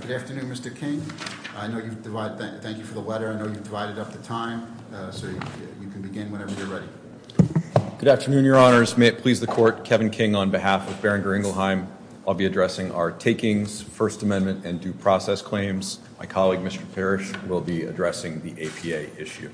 Good afternoon, Mr. King, I know you've divided up the time, so you can begin whenever you're Good afternoon, Your Honors. May it please the Court, Kevin King on behalf of Boehringer Ingelheim, I'll be addressing our takings, First Amendment, and due process claims. My colleague, Mr. Parrish, will be addressing the APA issue.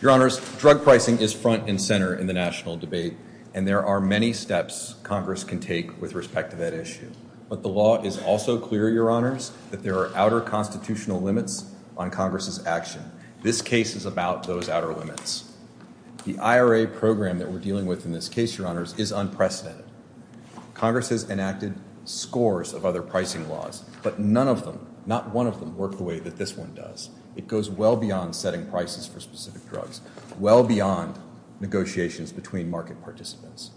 Your Honors, drug pricing is front and center in the national debate, and there are many steps Congress can take with respect to that issue. But the law is also clear, Your Honors, that there are outer constitutional limits on Congress's action. This case is about those outer limits. The IRA program that we're dealing with in this case, Your Honors, is unprecedented. Congress has enacted scores of other pricing laws, but none of them, not one of them, work the way that this one does. It goes well beyond setting prices for specific drugs, well beyond negotiations between market participants.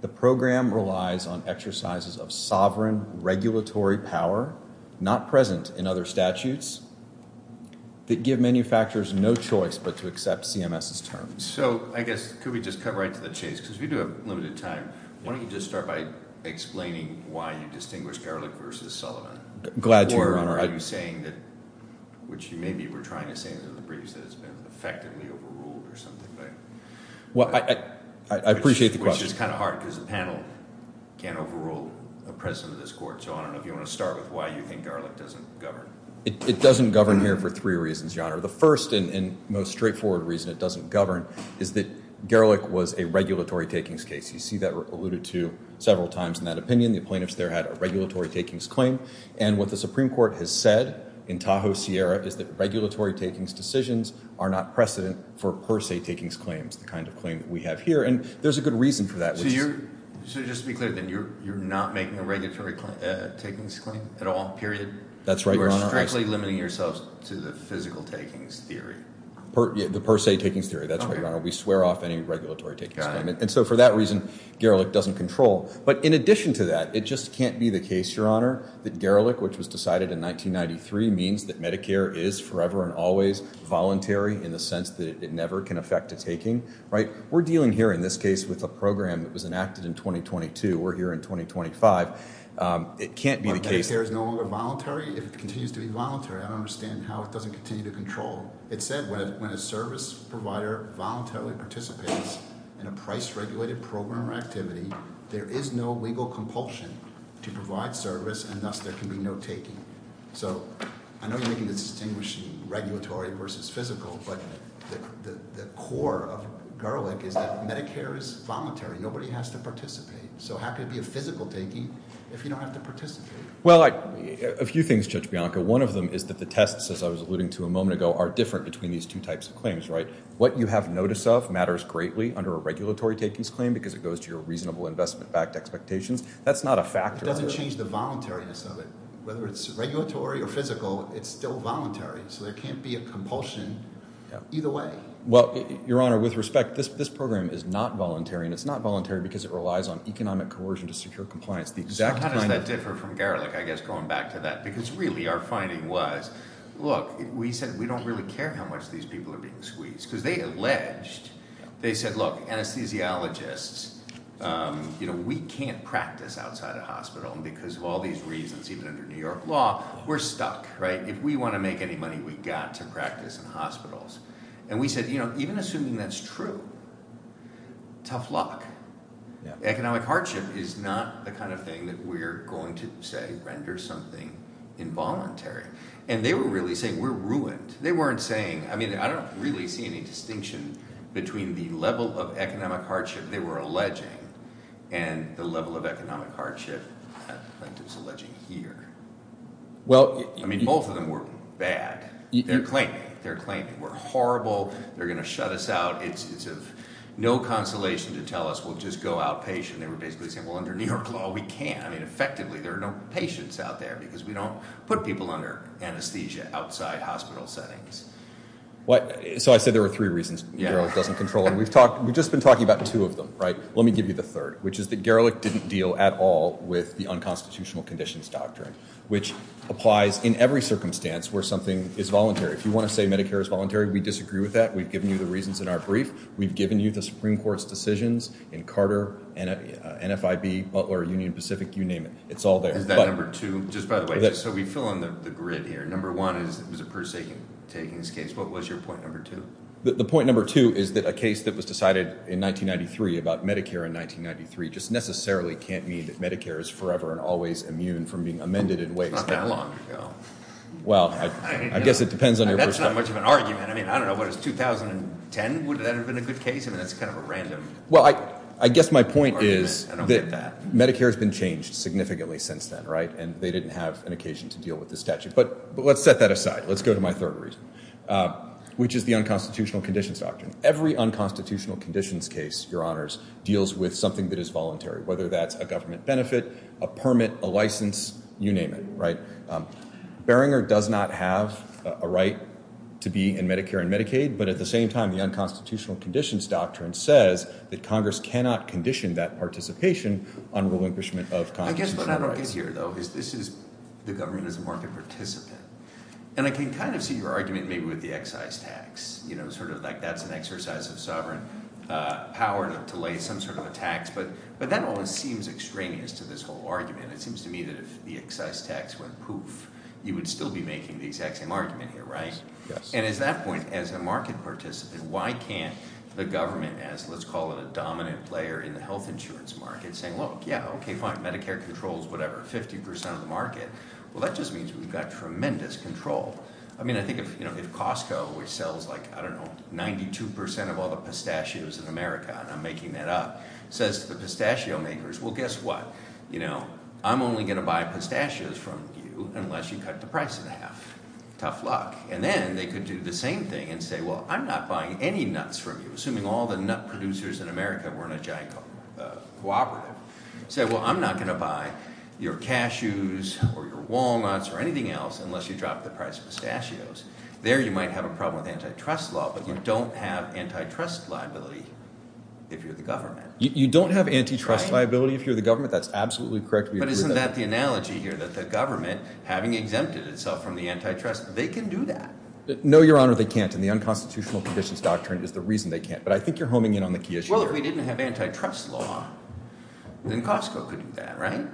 The program relies on exercises of sovereign regulatory power, not present in other statutes, that give manufacturers no choice but to accept CMS's terms. So, I guess, could we just cut right to the chase? Because we do have limited time. Why don't you just start by explaining why you distinguish Ehrlich versus Sullivan? Glad to, Your Honor. Or are you saying that, which you maybe were trying to say in the briefs, that it's been effectively overruled or something. Well, I appreciate the question. Which is kind of hard because the panel can't overrule a president of this court. So, I don't know if you want to start with why you think Ehrlich doesn't govern. It doesn't govern here for three reasons, Your Honor. The first and most straightforward reason it doesn't govern is that Ehrlich was a regulatory takings case. You see that alluded to several times in that opinion. The plaintiffs there had a regulatory takings claim. And what the Supreme Court has said in Tahoe Sierra is that regulatory takings decisions are not precedent for per se takings claims, the kind of claim that we have here. And there's a good reason for that. So, just to be clear, then, you're not making a regulatory takings claim at all, period? That's right, Your Honor. You are strictly limiting yourselves to the physical takings theory. The per se takings theory, that's right, Your Honor. We swear off any regulatory takings claim. And so, for that reason, Ehrlich doesn't control. But in addition to that, it just can't be the case, Your Honor, that Gerlich, which was decided in 1993, means that Medicare is forever and always voluntary in the sense that it never can affect a taking, right? We're dealing here, in this case, with a program that was enacted in 2022. We're here in 2025. It can't be the case. Medicare is no longer voluntary if it continues to be voluntary. I don't understand how it doesn't continue to control. It said, when a service provider voluntarily participates in a price-regulated program or activity, there is no legal compulsion to provide service, and thus there can be no taking. So, I know you're making the distinguishing regulatory versus physical, but the core of Gerlich is that Medicare is voluntary. Nobody has to participate. So how can it be a physical taking if you don't have to participate? Well, a few things, Judge Bianca. One of them is that the tests, as I was alluding to a moment ago, are different between these two types of claims, right? What you have notice of matters greatly under a regulatory takings claim because it goes to your reasonable investment-backed expectations. That's not a factor. It doesn't change the voluntariness of it. Whether it's regulatory or physical, it's still voluntary, so there can't be a compulsion either way. Well, Your Honor, with respect, this program is not voluntary, and it's not voluntary because it relies on economic coercion to secure compliance. So how does that differ from Gerlich, I guess, going back to that? Because, really, our finding was, look, we said we don't really care how much these people are being squeezed because they alleged. They said, look, anesthesiologists, you know, we can't practice outside a hospital, and because of all these reasons, even under New York law, we're stuck, right? If we want to make any money, we've got to practice in hospitals. And we said, you know, even assuming that's true, tough luck. Economic hardship is not the kind of thing that we're going to, say, render something involuntary. And they were really saying we're ruined. They weren't saying, I mean, I don't really see any distinction between the level of economic hardship they were alleging and the level of economic hardship plaintiffs are alleging here. Well, I mean, both of them were bad. They're claiming. They're claiming we're horrible. They're going to shut us out. It's of no consolation to tell us we'll just go outpatient. They were basically saying, well, under New York law, we can't. I mean, effectively, there are no patients out there because we don't put people under anesthesia outside hospital settings. So I said there were three reasons Gerlich doesn't control them. We've just been talking about two of them, right? Let me give you the third, which is that Gerlich didn't deal at all with the unconstitutional conditions doctrine, which applies in every circumstance where something is voluntary. If you want to say Medicare is voluntary, we disagree with that. We've given you the reasons in our brief. We've given you the Supreme Court's decisions in Carter, NFIB, Butler, Union Pacific, you name it. It's all there. Is that number two? Just by the way, so we fill in the grid here. Number one is it was a per se taking this case. What was your point number two? The point number two is that a case that was decided in 1993 about Medicare in 1993 just necessarily can't mean that Medicare is forever and always immune from being amended in ways. Not that long ago. Well, I guess it depends on your perspective. That's not much of an argument. I mean, I don't know. If it was 2010, would that have been a good case? I mean, that's kind of a random argument. Well, I guess my point is that Medicare has been changed significantly since then, right? And they didn't have an occasion to deal with the statute. But let's set that aside. Let's go to my third reason, which is the unconstitutional conditions doctrine. Every unconstitutional conditions case, Your Honors, deals with something that is voluntary, whether that's a government benefit, a permit, a license, you name it, right? Barringer does not have a right to be in Medicare and Medicaid. But at the same time, the unconstitutional conditions doctrine says that Congress cannot condition that participation on relinquishment of Congress' federal rights. I guess what I don't get here, though, is this is the government as a market participant. And I can kind of see your argument maybe with the excise tax, you know, sort of like that's an exercise of sovereign power to lay some sort of a tax. But that almost seems extraneous to this whole argument. It seems to me that if the excise tax went poof, you would still be making the exact same argument here, right? And at that point, as a market participant, why can't the government, as let's call it a dominant player in the health insurance market, saying, look, yeah, okay, fine, Medicare controls whatever, 50 percent of the market. Well, that just means we've got tremendous control. I mean, I think if Costco, which sells like, I don't know, 92 percent of all the pistachios in America, and I'm making that up, says to the pistachio makers, well, guess what? You know, I'm only going to buy pistachios from you unless you cut the price in half. Tough luck. And then they could do the same thing and say, well, I'm not buying any nuts from you, assuming all the nut producers in America were in a giant cooperative. Say, well, I'm not going to buy your cashews or your walnuts or anything else unless you drop the price of pistachios. There you might have a problem with antitrust law, but you don't have antitrust liability if you're the government. You don't have antitrust liability if you're the government. That's absolutely correct. But isn't that the analogy here, that the government, having exempted itself from the antitrust, they can do that? No, Your Honor, they can't. And the unconstitutional conditions doctrine is the reason they can't. But I think you're homing in on the key issue here. Well, if we didn't have antitrust law, then Costco could do that, right?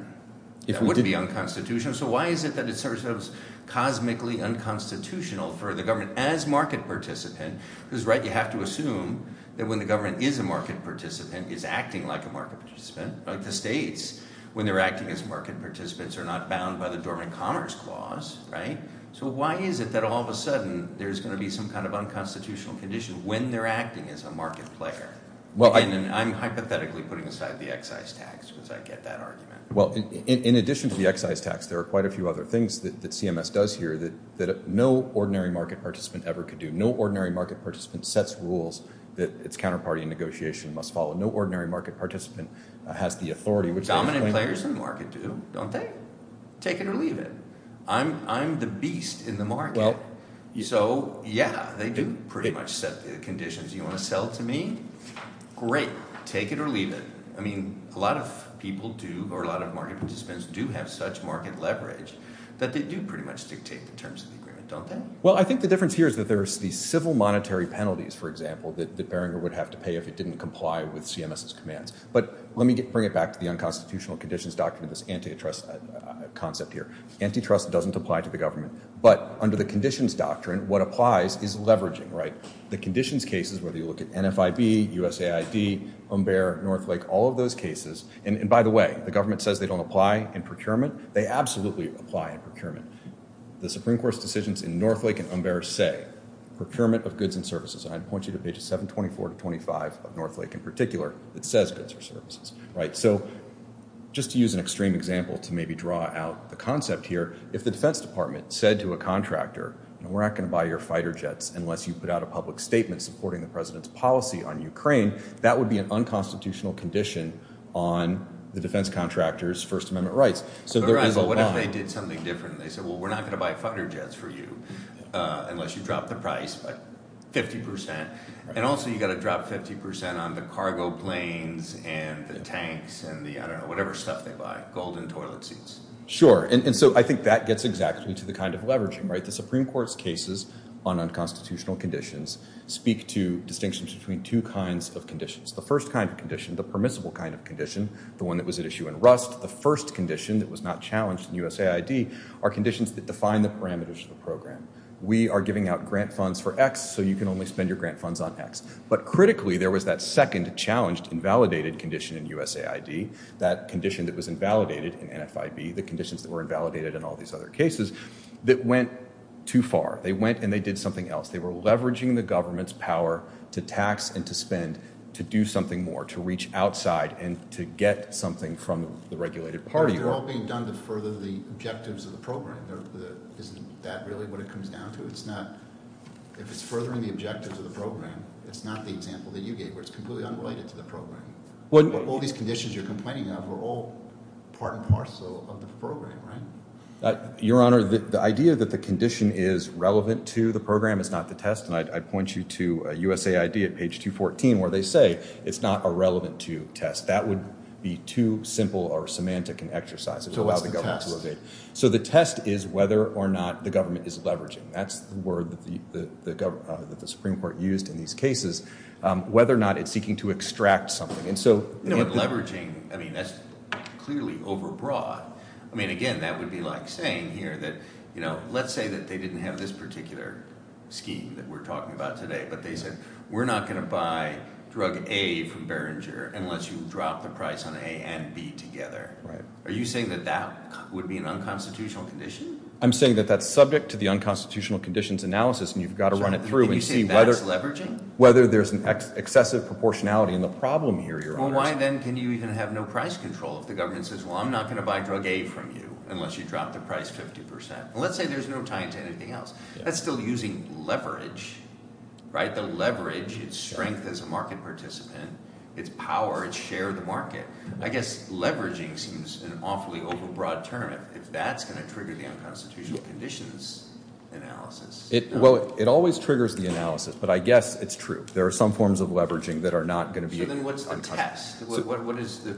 That wouldn't be unconstitutional. So why is it that it's sort of cosmically unconstitutional for the government as market participant? Because, right, you have to assume that when the government is a market participant, it's acting like a market participant, like the states. When they're acting as market participants, they're not bound by the Dormant Commerce Clause, right? So why is it that all of a sudden there's going to be some kind of unconstitutional condition when they're acting as a market player? And I'm hypothetically putting aside the excise tax because I get that argument. Well, in addition to the excise tax, there are quite a few other things that CMS does here that no ordinary market participant ever could do. No ordinary market participant sets rules that its counterparty in negotiation must follow. No ordinary market participant has the authority, which they explain. Dominant players in the market do, don't they? Take it or leave it. I'm the beast in the market. So, yeah, they do pretty much set the conditions. You want to sell to me? Great. Take it or leave it. I mean, a lot of people do, or a lot of market participants do have such market leverage that they do pretty much dictate the terms of the agreement, don't they? Well, I think the difference here is that there's the civil monetary penalties, for example, that Beringer would have to pay if it didn't comply with CMS's commands. But let me bring it back to the unconstitutional conditions doctrine of this antitrust concept here. Antitrust doesn't apply to the government. But under the conditions doctrine, what applies is leveraging, right? The conditions cases, whether you look at NFIB, USAID, Umber, Northlake, all of those cases. And, by the way, the government says they don't apply in procurement. They absolutely apply in procurement. The Supreme Court's decisions in Northlake and Umber say procurement of goods and services. And I'd point you to pages 724 to 725 of Northlake in particular that says goods or services, right? So just to use an extreme example to maybe draw out the concept here, if the Defense Department said to a contractor, we're not going to buy your fighter jets unless you put out a public statement supporting the president's policy on Ukraine, that would be an unconstitutional condition on the defense contractor's First Amendment rights. But what if they did something different? They said, well, we're not going to buy fighter jets for you unless you drop the price by 50%. And also you've got to drop 50% on the cargo planes and the tanks and the, I don't know, whatever stuff they buy, gold and toilet seats. Sure. And so I think that gets exactly to the kind of leveraging, right? The Supreme Court's cases on unconstitutional conditions speak to distinctions between two kinds of conditions. The first kind of condition, the permissible kind of condition, the one that was at issue in Rust, the first condition that was not challenged in USAID are conditions that define the parameters of the program. We are giving out grant funds for X, so you can only spend your grant funds on X. But critically, there was that second challenged invalidated condition in USAID, that condition that was invalidated in NFIB, the conditions that were invalidated in all these other cases that went too far. They went and they did something else. They were leveraging the government's power to tax and to spend to do something more, to reach outside and to get something from the regulated party. But they're all being done to further the objectives of the program. Isn't that really what it comes down to? If it's furthering the objectives of the program, it's not the example that you gave where it's completely unrelated to the program. All these conditions you're complaining of are all part and parcel of the program, right? Your Honor, the idea that the condition is relevant to the program is not the test. And I'd point you to USAID at page 214 where they say it's not irrelevant to test. That would be too simple or semantic an exercise to allow the government to evade. So the test is whether or not the government is leveraging. That's the word that the Supreme Court used in these cases, whether or not it's seeking to extract something. Leveraging, I mean, that's clearly overbroad. I mean, again, that would be like saying here that, you know, let's say that they didn't have this particular scheme that we're talking about today. But they said, we're not going to buy drug A from Behringer unless you drop the price on A and B together. Are you saying that that would be an unconstitutional condition? I'm saying that that's subject to the unconstitutional conditions analysis and you've got to run it through and see whether- Well, why then can you even have no price control if the government says, well, I'm not going to buy drug A from you unless you drop the price 50 percent? Well, let's say there's no tying to anything else. That's still using leverage, right? The leverage, its strength as a market participant, its power, its share of the market. I guess leveraging seems an awfully overbroad term. If that's going to trigger the unconstitutional conditions analysis- Well, it always triggers the analysis. But I guess it's true. There are some forms of leveraging that are not going to be- So then what's the test? What is the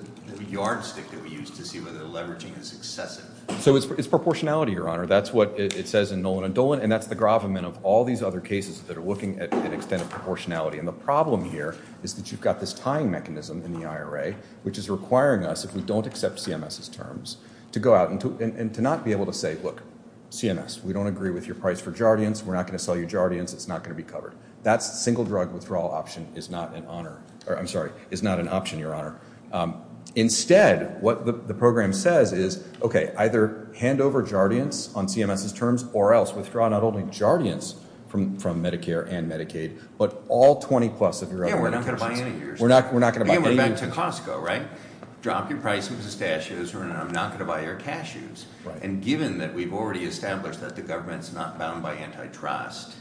yardstick that we use to see whether the leveraging is excessive? So it's proportionality, Your Honor. That's what it says in Nolan and Dolan, and that's the gravamen of all these other cases that are looking at an extent of proportionality. And the problem here is that you've got this tying mechanism in the IRA, which is requiring us, if we don't accept CMS's terms, to go out and to not be able to say, look, CMS, we don't agree with your price for Jardians. We're not going to sell you Jardians. It's not going to be covered. That single drug withdrawal option is not an option, Your Honor. Instead, what the program says is, okay, either hand over Jardians on CMS's terms or else withdraw not only Jardians from Medicare and Medicaid, but all 20-plus of your other- Yeah, we're not going to buy any of yours. We're not going to buy any of yours. Yeah, we're back to Costco, right? Drop your price on pistachios, and I'm not going to buy your cashews. And given that we've already established that the government's not bound by antitrust,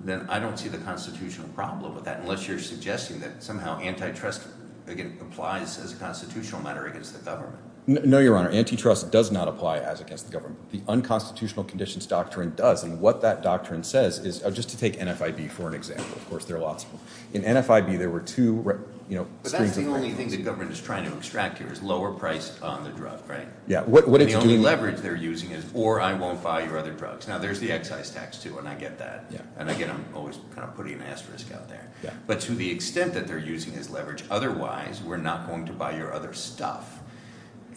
then I don't see the constitutional problem with that, unless you're suggesting that somehow antitrust, again, applies as a constitutional matter against the government. No, Your Honor. Antitrust does not apply as against the government. The unconstitutional conditions doctrine does, and what that doctrine says is, just to take NFIB for an example. Of course, there are lots of them. In NFIB, there were two- But that's the only thing the government is trying to extract here is lower price on the drug, right? And the only leverage they're using is, or I won't buy your other drugs. Now, there's the excise tax, too, and I get that. And again, I'm always kind of putting an asterisk out there. But to the extent that they're using as leverage, otherwise, we're not going to buy your other stuff.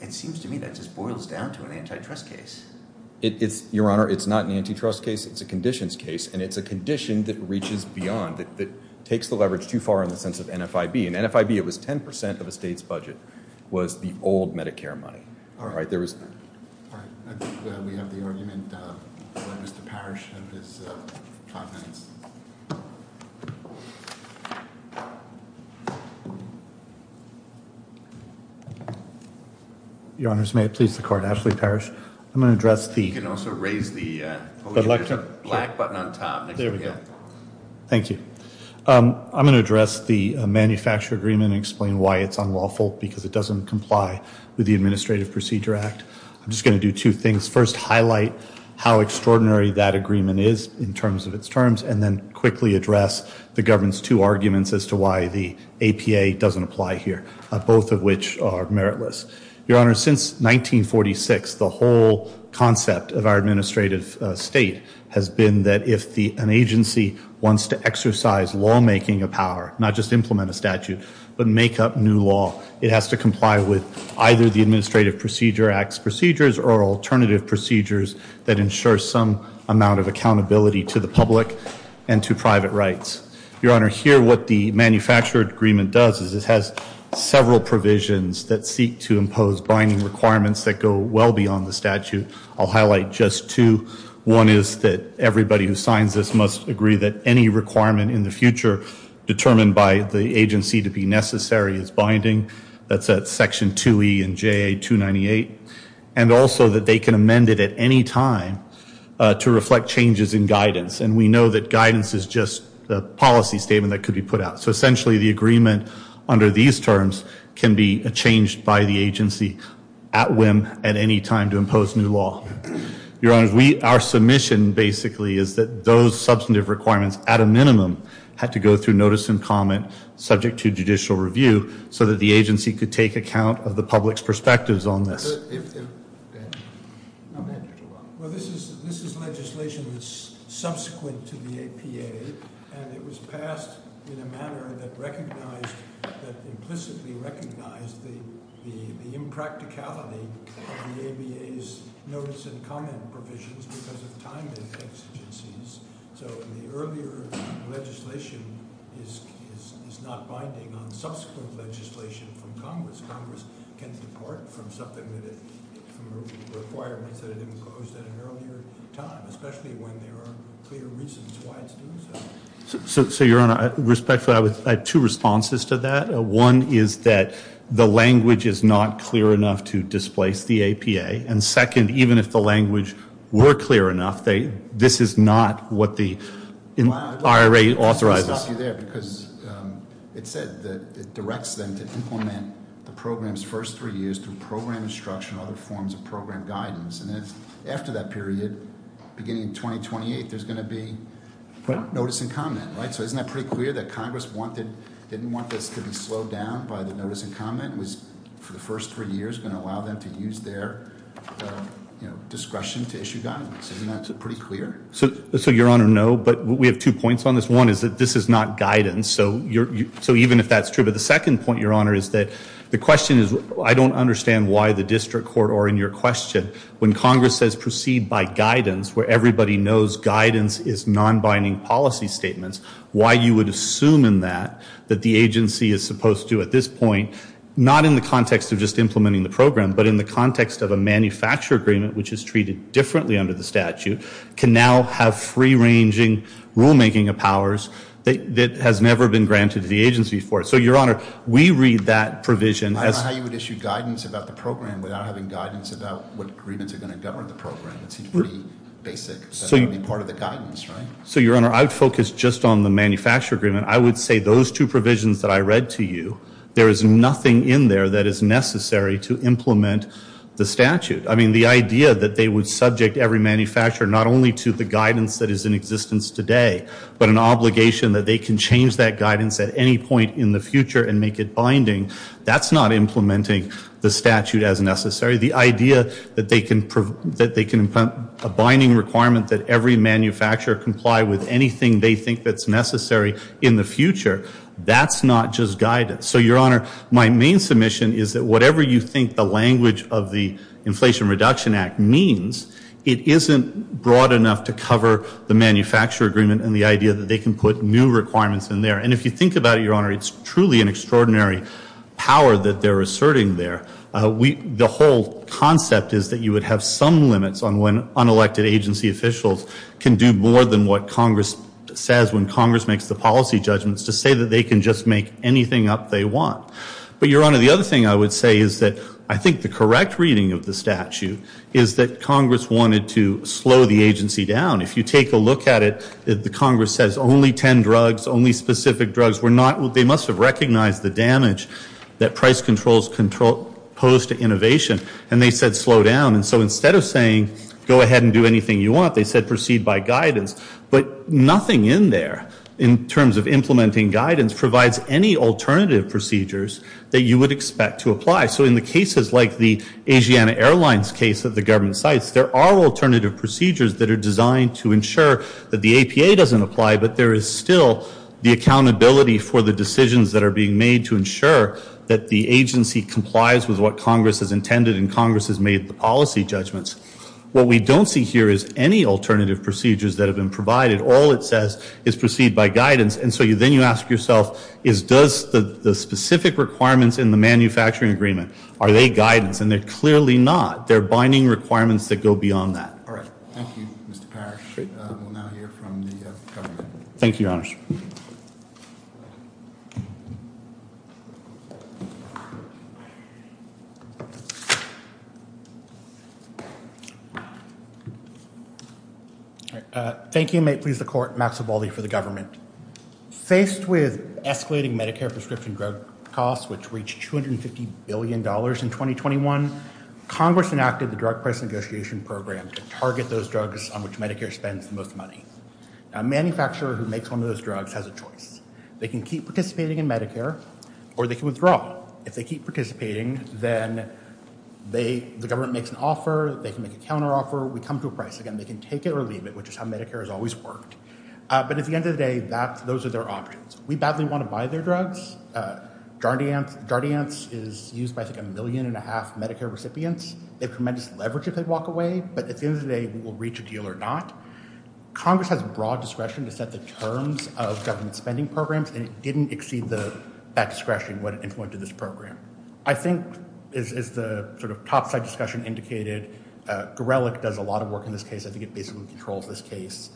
It seems to me that just boils down to an antitrust case. Your Honor, it's not an antitrust case. It's a conditions case, and it's a condition that reaches beyond, that takes the leverage too far in the sense of NFIB. In NFIB, it was 10% of a state's budget was the old Medicare money. All right, there was- All right. I think we have the argument by Mr. Parrish of his comments. Your Honors, may it please the Court. Ashley Parrish. I'm going to address the- You can also raise the black button on top. There we go. Thank you. I'm going to address the manufacturer agreement and explain why it's unlawful, because it doesn't comply with the Administrative Procedure Act. I'm just going to do two things. First, highlight how extraordinary that agreement is in terms of its terms, and then quickly address the government's two arguments as to why the APA doesn't apply here, both of which are meritless. Your Honors, since 1946, the whole concept of our administrative state has been that if an agency wants to exercise lawmaking power, not just implement a statute, but make up new law, it has to comply with either the Administrative Procedure Act's procedures or alternative procedures that ensure some amount of accountability to the public and to private rights. Your Honor, here what the manufacturer agreement does is it has several provisions that seek to impose binding requirements that go well beyond the statute. I'll highlight just two. One is that everybody who signs this must agree that any requirement in the future determined by the agency to be necessary is binding. That's at section 2E in JA-298. And also that they can amend it at any time to reflect changes in guidance. And we know that guidance is just a policy statement that could be put out. So essentially the agreement under these terms can be changed by the agency at whim at any time to impose new law. Your Honors, our submission basically is that those substantive requirements, at a minimum, had to go through notice and comment subject to judicial review so that the agency could take account of the public's perspectives on this. Well, this is legislation that's subsequent to the APA, and it was passed in a manner that implicitly recognized the impracticality of the ABA's notice and comment provisions because of time exigencies. So the earlier legislation is not binding on subsequent legislation from Congress. Congress can depart from something that it, from requirements that it imposed at an earlier time, especially when there are clear reasons why it's doing so. So, Your Honor, respectfully, I have two responses to that. One is that the language is not clear enough to displace the APA. And second, even if the language were clear enough, this is not what the IRA authorizes. Let me stop you there because it said that it directs them to implement the program's first three years through program instruction or other forms of program guidance. And after that period, beginning in 2028, there's going to be notice and comment, right? So isn't that pretty clear that Congress didn't want this to be slowed down by the notice and comment? It was, for the first three years, going to allow them to use their discretion to issue guidance. Isn't that pretty clear? So, Your Honor, no. But we have two points on this. One is that this is not guidance. So even if that's true. But the second point, Your Honor, is that the question is I don't understand why the district court or in your question, when Congress says proceed by guidance where everybody knows guidance is non-binding policy statements, why you would assume in that that the agency is supposed to at this point, not in the context of just implementing the program, but in the context of a manufacturer agreement, which is treated differently under the statute, can now have free-ranging rulemaking of powers that has never been granted to the agency before. So, Your Honor, we read that provision as. I don't know how you would issue guidance about the program without having guidance about what agreements are going to govern the program. It seems pretty basic. So you. That would be part of the guidance, right? So, Your Honor, I would focus just on the manufacturer agreement. I would say those two provisions that I read to you, there is nothing in there that is necessary to implement the statute. I mean, the idea that they would subject every manufacturer not only to the guidance that is in existence today, but an obligation that they can change that guidance at any point in the future and make it binding, that's not implementing the statute as necessary. The idea that they can implement a binding requirement that every manufacturer comply with anything they think that's necessary in the future, that's not just guidance. So, Your Honor, my main submission is that whatever you think the language of the Inflation Reduction Act means, it isn't broad enough to cover the manufacturer agreement and the idea that they can put new requirements in there. And if you think about it, Your Honor, it's truly an extraordinary power that they're asserting there. The whole concept is that you would have some limits on when unelected agency officials can do more than what Congress says when Congress makes the policy judgments to say that they can just make anything up they want. But, Your Honor, the other thing I would say is that I think the correct reading of the statute is that Congress wanted to slow the agency down. If you take a look at it, the Congress says only 10 drugs, only specific drugs. They must have recognized the damage that price controls pose to innovation, and they said slow down. And so instead of saying go ahead and do anything you want, they said proceed by guidance. But nothing in there in terms of implementing guidance provides any alternative procedures that you would expect to apply. So in the cases like the Asiana Airlines case that the government cites, there are alternative procedures that are designed to ensure that the APA doesn't apply, but there is still the accountability for the decisions that are being made to ensure that the agency complies with what Congress has intended and Congress has made the policy judgments. What we don't see here is any alternative procedures that have been provided. All it says is proceed by guidance. And so then you ask yourself is does the specific requirements in the manufacturing agreement, are they guidance? And they're clearly not. They're binding requirements that go beyond that. All right, thank you, Mr. Parrish. We'll now hear from the government. Thank you, Your Honor. Thank you, and may it please the Court, Max Vivaldi for the government. Faced with escalating Medicare prescription drug costs, which reached $250 billion in 2021, Congress enacted the Drug Price Negotiation Program to target those drugs on which Medicare spends the most money. A manufacturer who makes one of those drugs has a choice. They can keep participating in Medicare or they can withdraw. If they keep participating, then the government makes an offer. They can make a counteroffer. We come to a price. Again, they can take it or leave it, which is how Medicare has always worked. But at the end of the day, those are their options. We badly want to buy their drugs. Jardiance is used by, I think, a million and a half Medicare recipients. They have tremendous leverage if they walk away. But at the end of the day, we'll reach a deal or not. Congress has broad discretion to set the terms of government spending programs, and it didn't exceed that discretion when it implemented this program. I think, as the sort of topside discussion indicated, Gorelick does a lot of work in this case. I think it basically controls this case.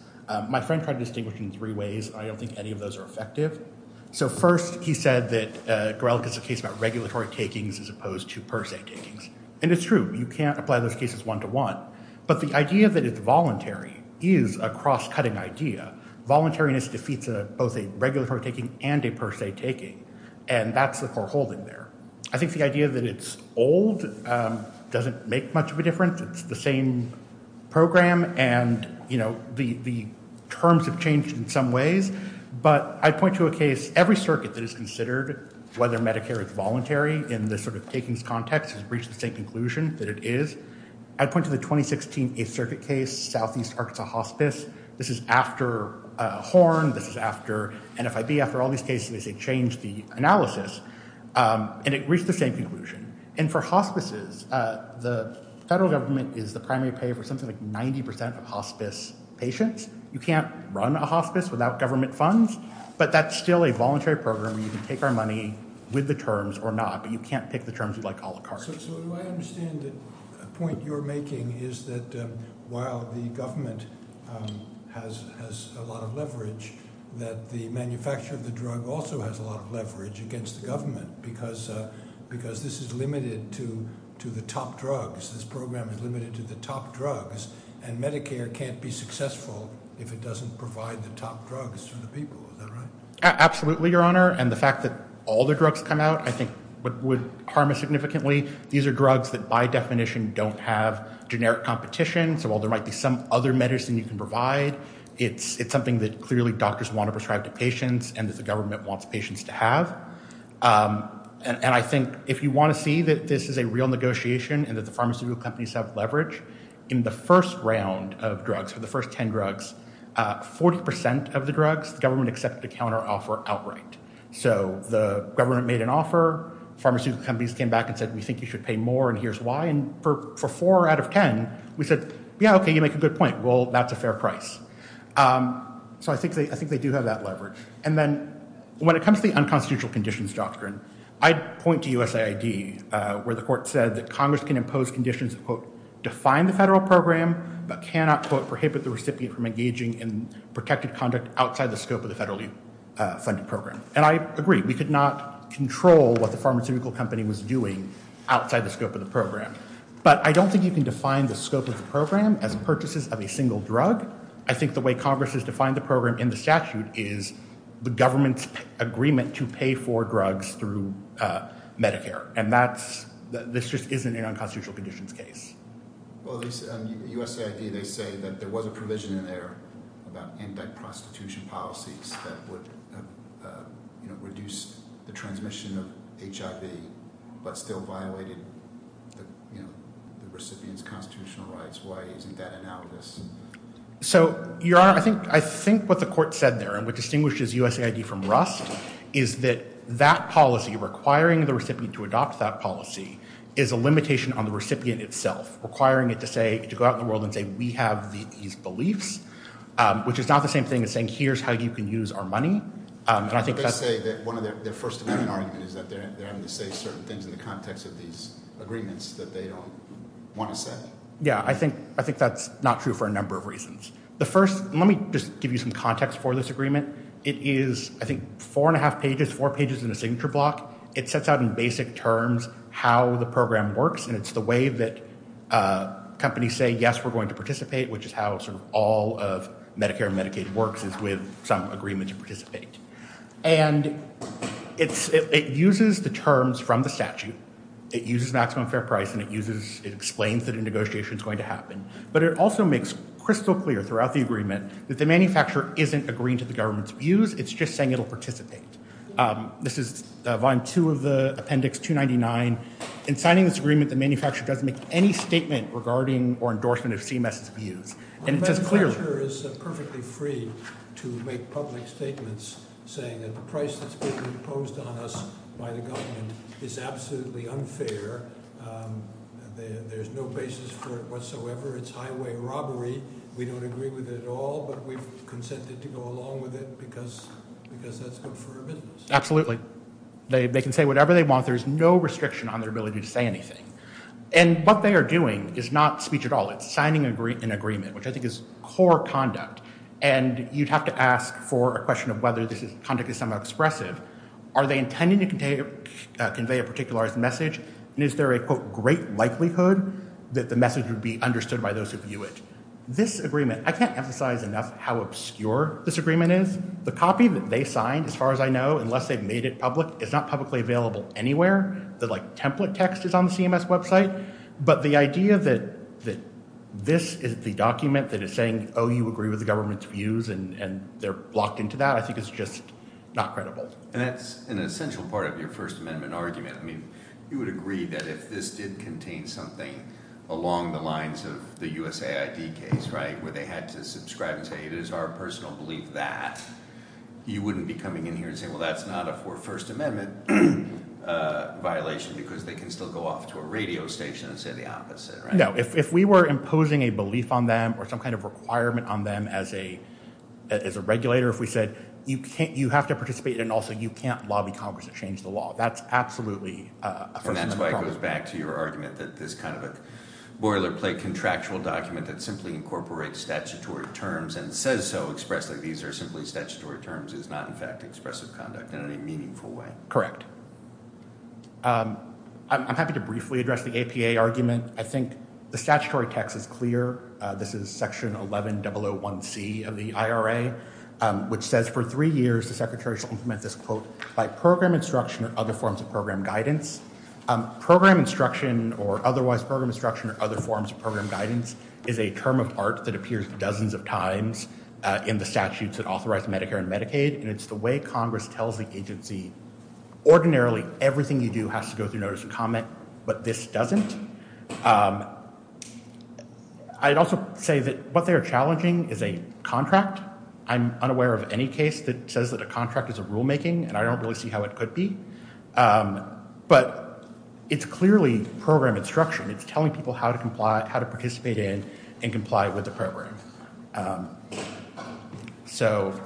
My friend tried to distinguish it in three ways. I don't think any of those are effective. So first, he said that Gorelick is a case about regulatory takings as opposed to per se takings, and it's true. You can't apply those cases one-to-one. But the idea that it's voluntary is a cross-cutting idea. Voluntariness defeats both a regulatory taking and a per se taking, and that's the core holding there. I think the idea that it's old doesn't make much of a difference. It's the same program, and the terms have changed in some ways. But I'd point to a case, every circuit that has considered whether Medicare is voluntary in this sort of takings context has reached the same conclusion that it is. I'd point to the 2016 8th Circuit case, Southeast Arkansas Hospice. This is after Horn. This is after NFIB. After all these cases, they changed the analysis, and it reached the same conclusion. And for hospices, the federal government is the primary payer for something like 90% of hospice patients. You can't run a hospice without government funds, but that's still a voluntary program. You can take our money with the terms or not, but you can't pick the terms you'd like a la carte. So do I understand the point you're making is that while the government has a lot of leverage, that the manufacturer of the drug also has a lot of leverage against the government because this is limited to the top drugs. This program is limited to the top drugs, and Medicare can't be successful if it doesn't provide the top drugs to the people. Is that right? Absolutely, Your Honor. And the fact that all the drugs come out I think would harm us significantly. These are drugs that by definition don't have generic competition. So while there might be some other medicine you can provide, it's something that clearly doctors want to prescribe to patients and that the government wants patients to have. And I think if you want to see that this is a real negotiation and that the pharmaceutical companies have leverage, in the first round of drugs, for the first 10 drugs, 40% of the drugs, the government accepted to counteroffer outright. So the government made an offer. Pharmaceutical companies came back and said, we think you should pay more, and here's why. And for four out of 10, we said, yeah, okay, you make a good point. Well, that's a fair price. So I think they do have that leverage. And then when it comes to the unconstitutional conditions doctrine, I'd point to USAID where the court said that Congress can impose conditions that, quote, define the federal program but cannot, quote, prohibit the recipient from engaging in protected conduct outside the scope of the federally funded program. And I agree. We could not control what the pharmaceutical company was doing outside the scope of the program. But I don't think you can define the scope of the program as purchases of a single drug. I think the way Congress has defined the program in the statute is the government's agreement to pay for drugs through Medicare. And this just isn't an unconstitutional conditions case. Well, USAID, they say that there was a provision in there about in-debt prostitution policies that would reduce the transmission of HIV but still violated the recipient's constitutional rights. Why isn't that analogous? So, Your Honor, I think what the court said there and what distinguishes USAID from Rust is that that policy requiring the recipient to adopt that policy is a limitation on the recipient itself, requiring it to go out in the world and say, we have these beliefs, which is not the same thing as saying, here's how you can use our money. I think they say that one of their First Amendment arguments is that they're having to say certain things in the context of these agreements that they don't want to say. Yeah, I think that's not true for a number of reasons. The first, let me just give you some context for this agreement. It is, I think, four and a half pages, four pages in a signature block. It sets out in basic terms how the program works, and it's the way that companies say, yes, we're going to participate, which is how sort of all of Medicare and Medicaid works is with some agreement to participate. And it uses the terms from the statute. It uses maximum fair price, and it uses, it explains that a negotiation is going to happen. But it also makes crystal clear throughout the agreement that the manufacturer isn't agreeing to the government's views. It's just saying it'll participate. This is Volume 2 of the Appendix 299. In signing this agreement, the manufacturer doesn't make any statement regarding or endorsement of CMS's views. The manufacturer is perfectly free to make public statements, saying that the price that's being imposed on us by the government is absolutely unfair. There's no basis for it whatsoever. It's highway robbery. We don't agree with it at all, but we've consented to go along with it because that's good for our business. Absolutely. They can say whatever they want. There's no restriction on their ability to say anything. And what they are doing is not speech at all. It's signing an agreement, which I think is core conduct. And you'd have to ask for a question of whether this conduct is somehow expressive. Are they intending to convey a particularized message? And is there a, quote, great likelihood that the message would be understood by those who view it? This agreement, I can't emphasize enough how obscure this agreement is. The copy that they signed, as far as I know, unless they've made it public, is not publicly available anywhere. The, like, template text is on the CMS website. But the idea that this is the document that is saying, oh, you agree with the government's views and they're locked into that, I think is just not credible. And that's an essential part of your First Amendment argument. I mean you would agree that if this did contain something along the lines of the USAID case, right, where they had to subscribe and say it is our personal belief that, you wouldn't be coming in here and saying, well, that's not a First Amendment violation because they can still go off to a radio station and say the opposite, right? No, if we were imposing a belief on them or some kind of requirement on them as a regulator, if we said you have to participate and also you can't lobby Congress to change the law, that's absolutely a First Amendment problem. Correct. I'm happy to briefly address the APA argument. I think the statutory text is clear. This is Section 11001C of the IRA, which says for three years the Secretary shall implement this, quote, by program instruction or other forms of program guidance. Program instruction or otherwise program instruction or other forms of program guidance is a term of art that appears dozens of times in the statutes that authorize Medicare and Medicaid, and it's the way Congress tells the agency ordinarily everything you do has to go through notice and comment, but this doesn't. I'd also say that what they are challenging is a contract. I'm unaware of any case that says that a contract is a rulemaking, and I don't really see how it could be. But it's clearly program instruction. It's telling people how to comply, how to participate in and comply with the program. So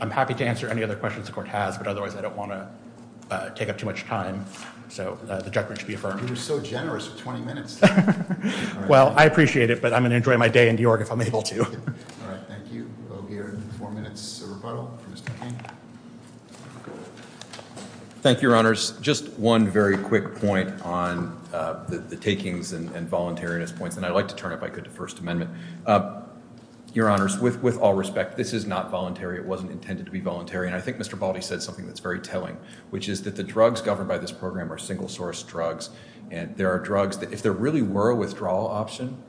I'm happy to answer any other questions the Court has, but otherwise I don't want to take up too much time. So the judgment should be affirmed. You were so generous with 20 minutes. Well, I appreciate it, but I'm going to enjoy my day in New York if I'm able to. All right, thank you. Four minutes of rebuttal for Mr. King. Thank you, Your Honors. Just one very quick point on the takings and voluntariness points, and I'd like to turn, if I could, to First Amendment. Your Honors, with all respect, this is not voluntary. It wasn't intended to be voluntary, and I think Mr. Baldy said something that's very telling, which is that the drugs governed by this program are single-source drugs, and there are drugs that if there really were a withdrawal option,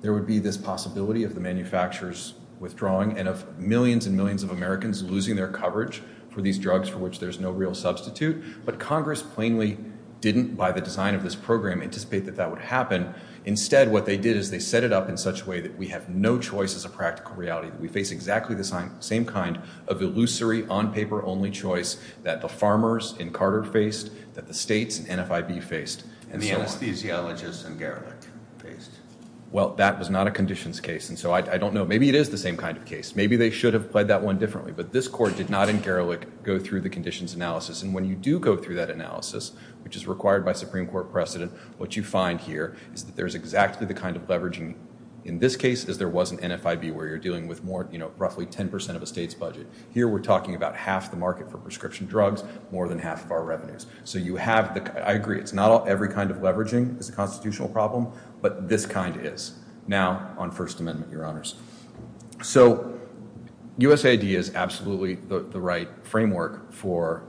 there would be this possibility of the manufacturers withdrawing and of millions and millions of Americans losing their coverage for these drugs for which there's no real substitute. But Congress plainly didn't, by the design of this program, anticipate that that would happen. Instead, what they did is they set it up in such a way that we have no choice as a practical reality, that we face exactly the same kind of illusory, on-paper-only choice that the farmers in Carter faced, that the states in NFIB faced, and so on. And the anesthesiologists in Garrick faced. Well, that was not a conditions case. And so I don't know. Maybe it is the same kind of case. Maybe they should have played that one differently. But this Court did not in Garrick go through the conditions analysis. And when you do go through that analysis, which is required by Supreme Court precedent, what you find here is that there's exactly the kind of leveraging in this case, as there was in NFIB where you're dealing with more, you know, roughly 10% of a state's budget. Here we're talking about half the market for prescription drugs, more than half of our revenues. So you have the – I agree, it's not every kind of leveraging is a constitutional problem, but this kind is. Now on First Amendment, Your Honors. So USAID is absolutely the right framework for,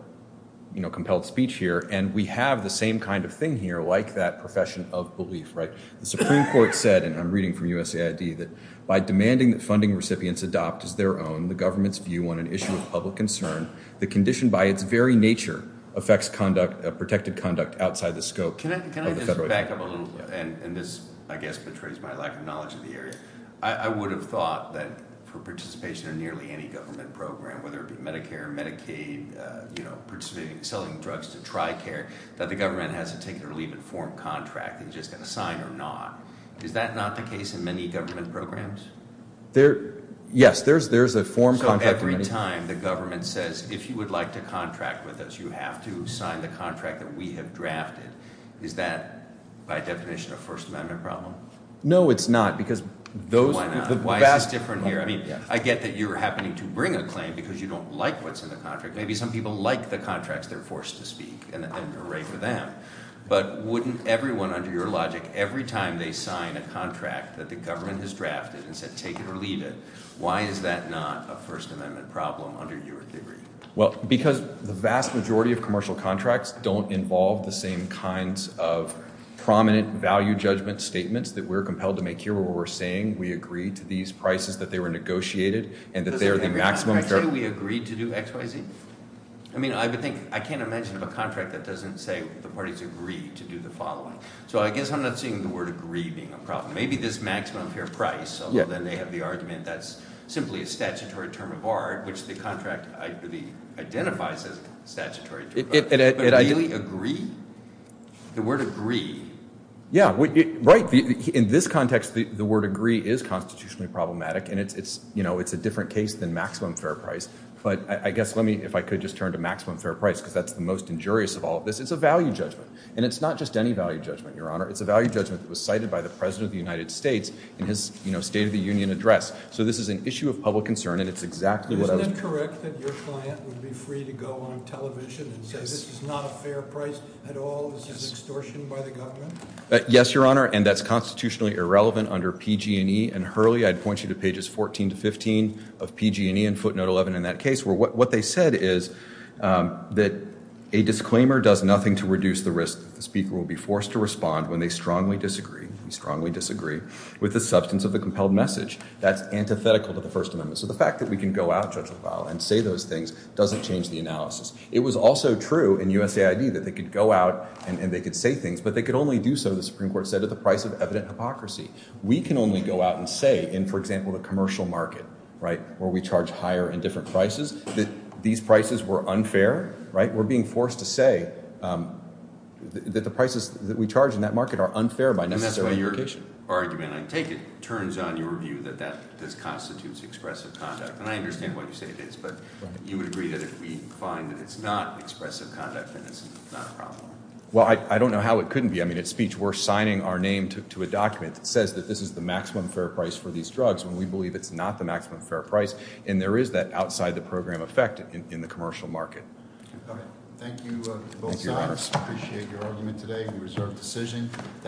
you know, compelled speech here. And we have the same kind of thing here, like that profession of belief, right? The Supreme Court said, and I'm reading from USAID, that by demanding that funding recipients adopt as their own the government's view on an issue of public concern, the condition by its very nature affects conduct, protected conduct, outside the scope of the federal government. Let me back up a little, and this, I guess, betrays my lack of knowledge of the area. I would have thought that for participation in nearly any government program, whether it be Medicare or Medicaid, you know, participating in selling drugs to TRICARE, that the government has to take it or leave it, form contract, and just going to sign or not. Is that not the case in many government programs? Yes, there's a form contract. So every time the government says, if you would like to contract with us, you have to sign the contract that we have drafted. Is that, by definition, a First Amendment problem? No, it's not. Why not? Why is this different here? I mean, I get that you're happening to bring a claim because you don't like what's in the contract. Maybe some people like the contracts they're forced to speak, and you're right for them. But wouldn't everyone, under your logic, every time they sign a contract that the government has drafted and said take it or leave it, why is that not a First Amendment problem under your theory? Well, because the vast majority of commercial contracts don't involve the same kinds of prominent value judgment statements that we're compelled to make here where we're saying we agree to these prices, that they were negotiated, and that they are the maximum fair – Does every contract say we agreed to do X, Y, Z? I mean, I can't imagine a contract that doesn't say the parties agreed to do the following. So I guess I'm not seeing the word agree being a problem. Maybe there's maximum fair price, although then they have the argument that's simply a statutory term of art, which the contract identifies as statutory term of art. But really, agree? The word agree. Yeah, right. In this context, the word agree is constitutionally problematic, and it's a different case than maximum fair price. But I guess let me, if I could, just turn to maximum fair price because that's the most injurious of all of this. It's a value judgment, and it's not just any value judgment, Your Honor. It's a value judgment that was cited by the President of the United States in his State of the Union address. So this is an issue of public concern, and it's exactly what I was – Isn't it correct that your client would be free to go on television and say, this is not a fair price at all, this is extortion by the government? Yes, Your Honor, and that's constitutionally irrelevant under PG&E. And Hurley, I'd point you to pages 14 to 15 of PG&E and footnote 11 in that case, where what they said is that a disclaimer does nothing to reduce the risk that the speaker will be forced to respond when they strongly disagree. We strongly disagree with the substance of the compelled message. That's antithetical to the First Amendment. So the fact that we can go out, Judge LaValle, and say those things doesn't change the analysis. It was also true in USAID that they could go out and they could say things, but they could only do so, the Supreme Court said, at the price of evident hypocrisy. We can only go out and say in, for example, the commercial market, right, where we charge higher and different prices, that these prices were unfair, right? We're being forced to say that the prices that we charge in that market are unfair by necessary implication. The argument, I take it, turns on your view that this constitutes expressive conduct, and I understand why you say it is, but you would agree that if we find that it's not expressive conduct, then it's not a problem. Well, I don't know how it couldn't be. I mean, at speech, we're signing our name to a document that says that this is the maximum fair price for these drugs when we believe it's not the maximum fair price, and there is that outside-the-program effect in the commercial market. Thank you, both sides. Appreciate your argument today. We reserve the decision.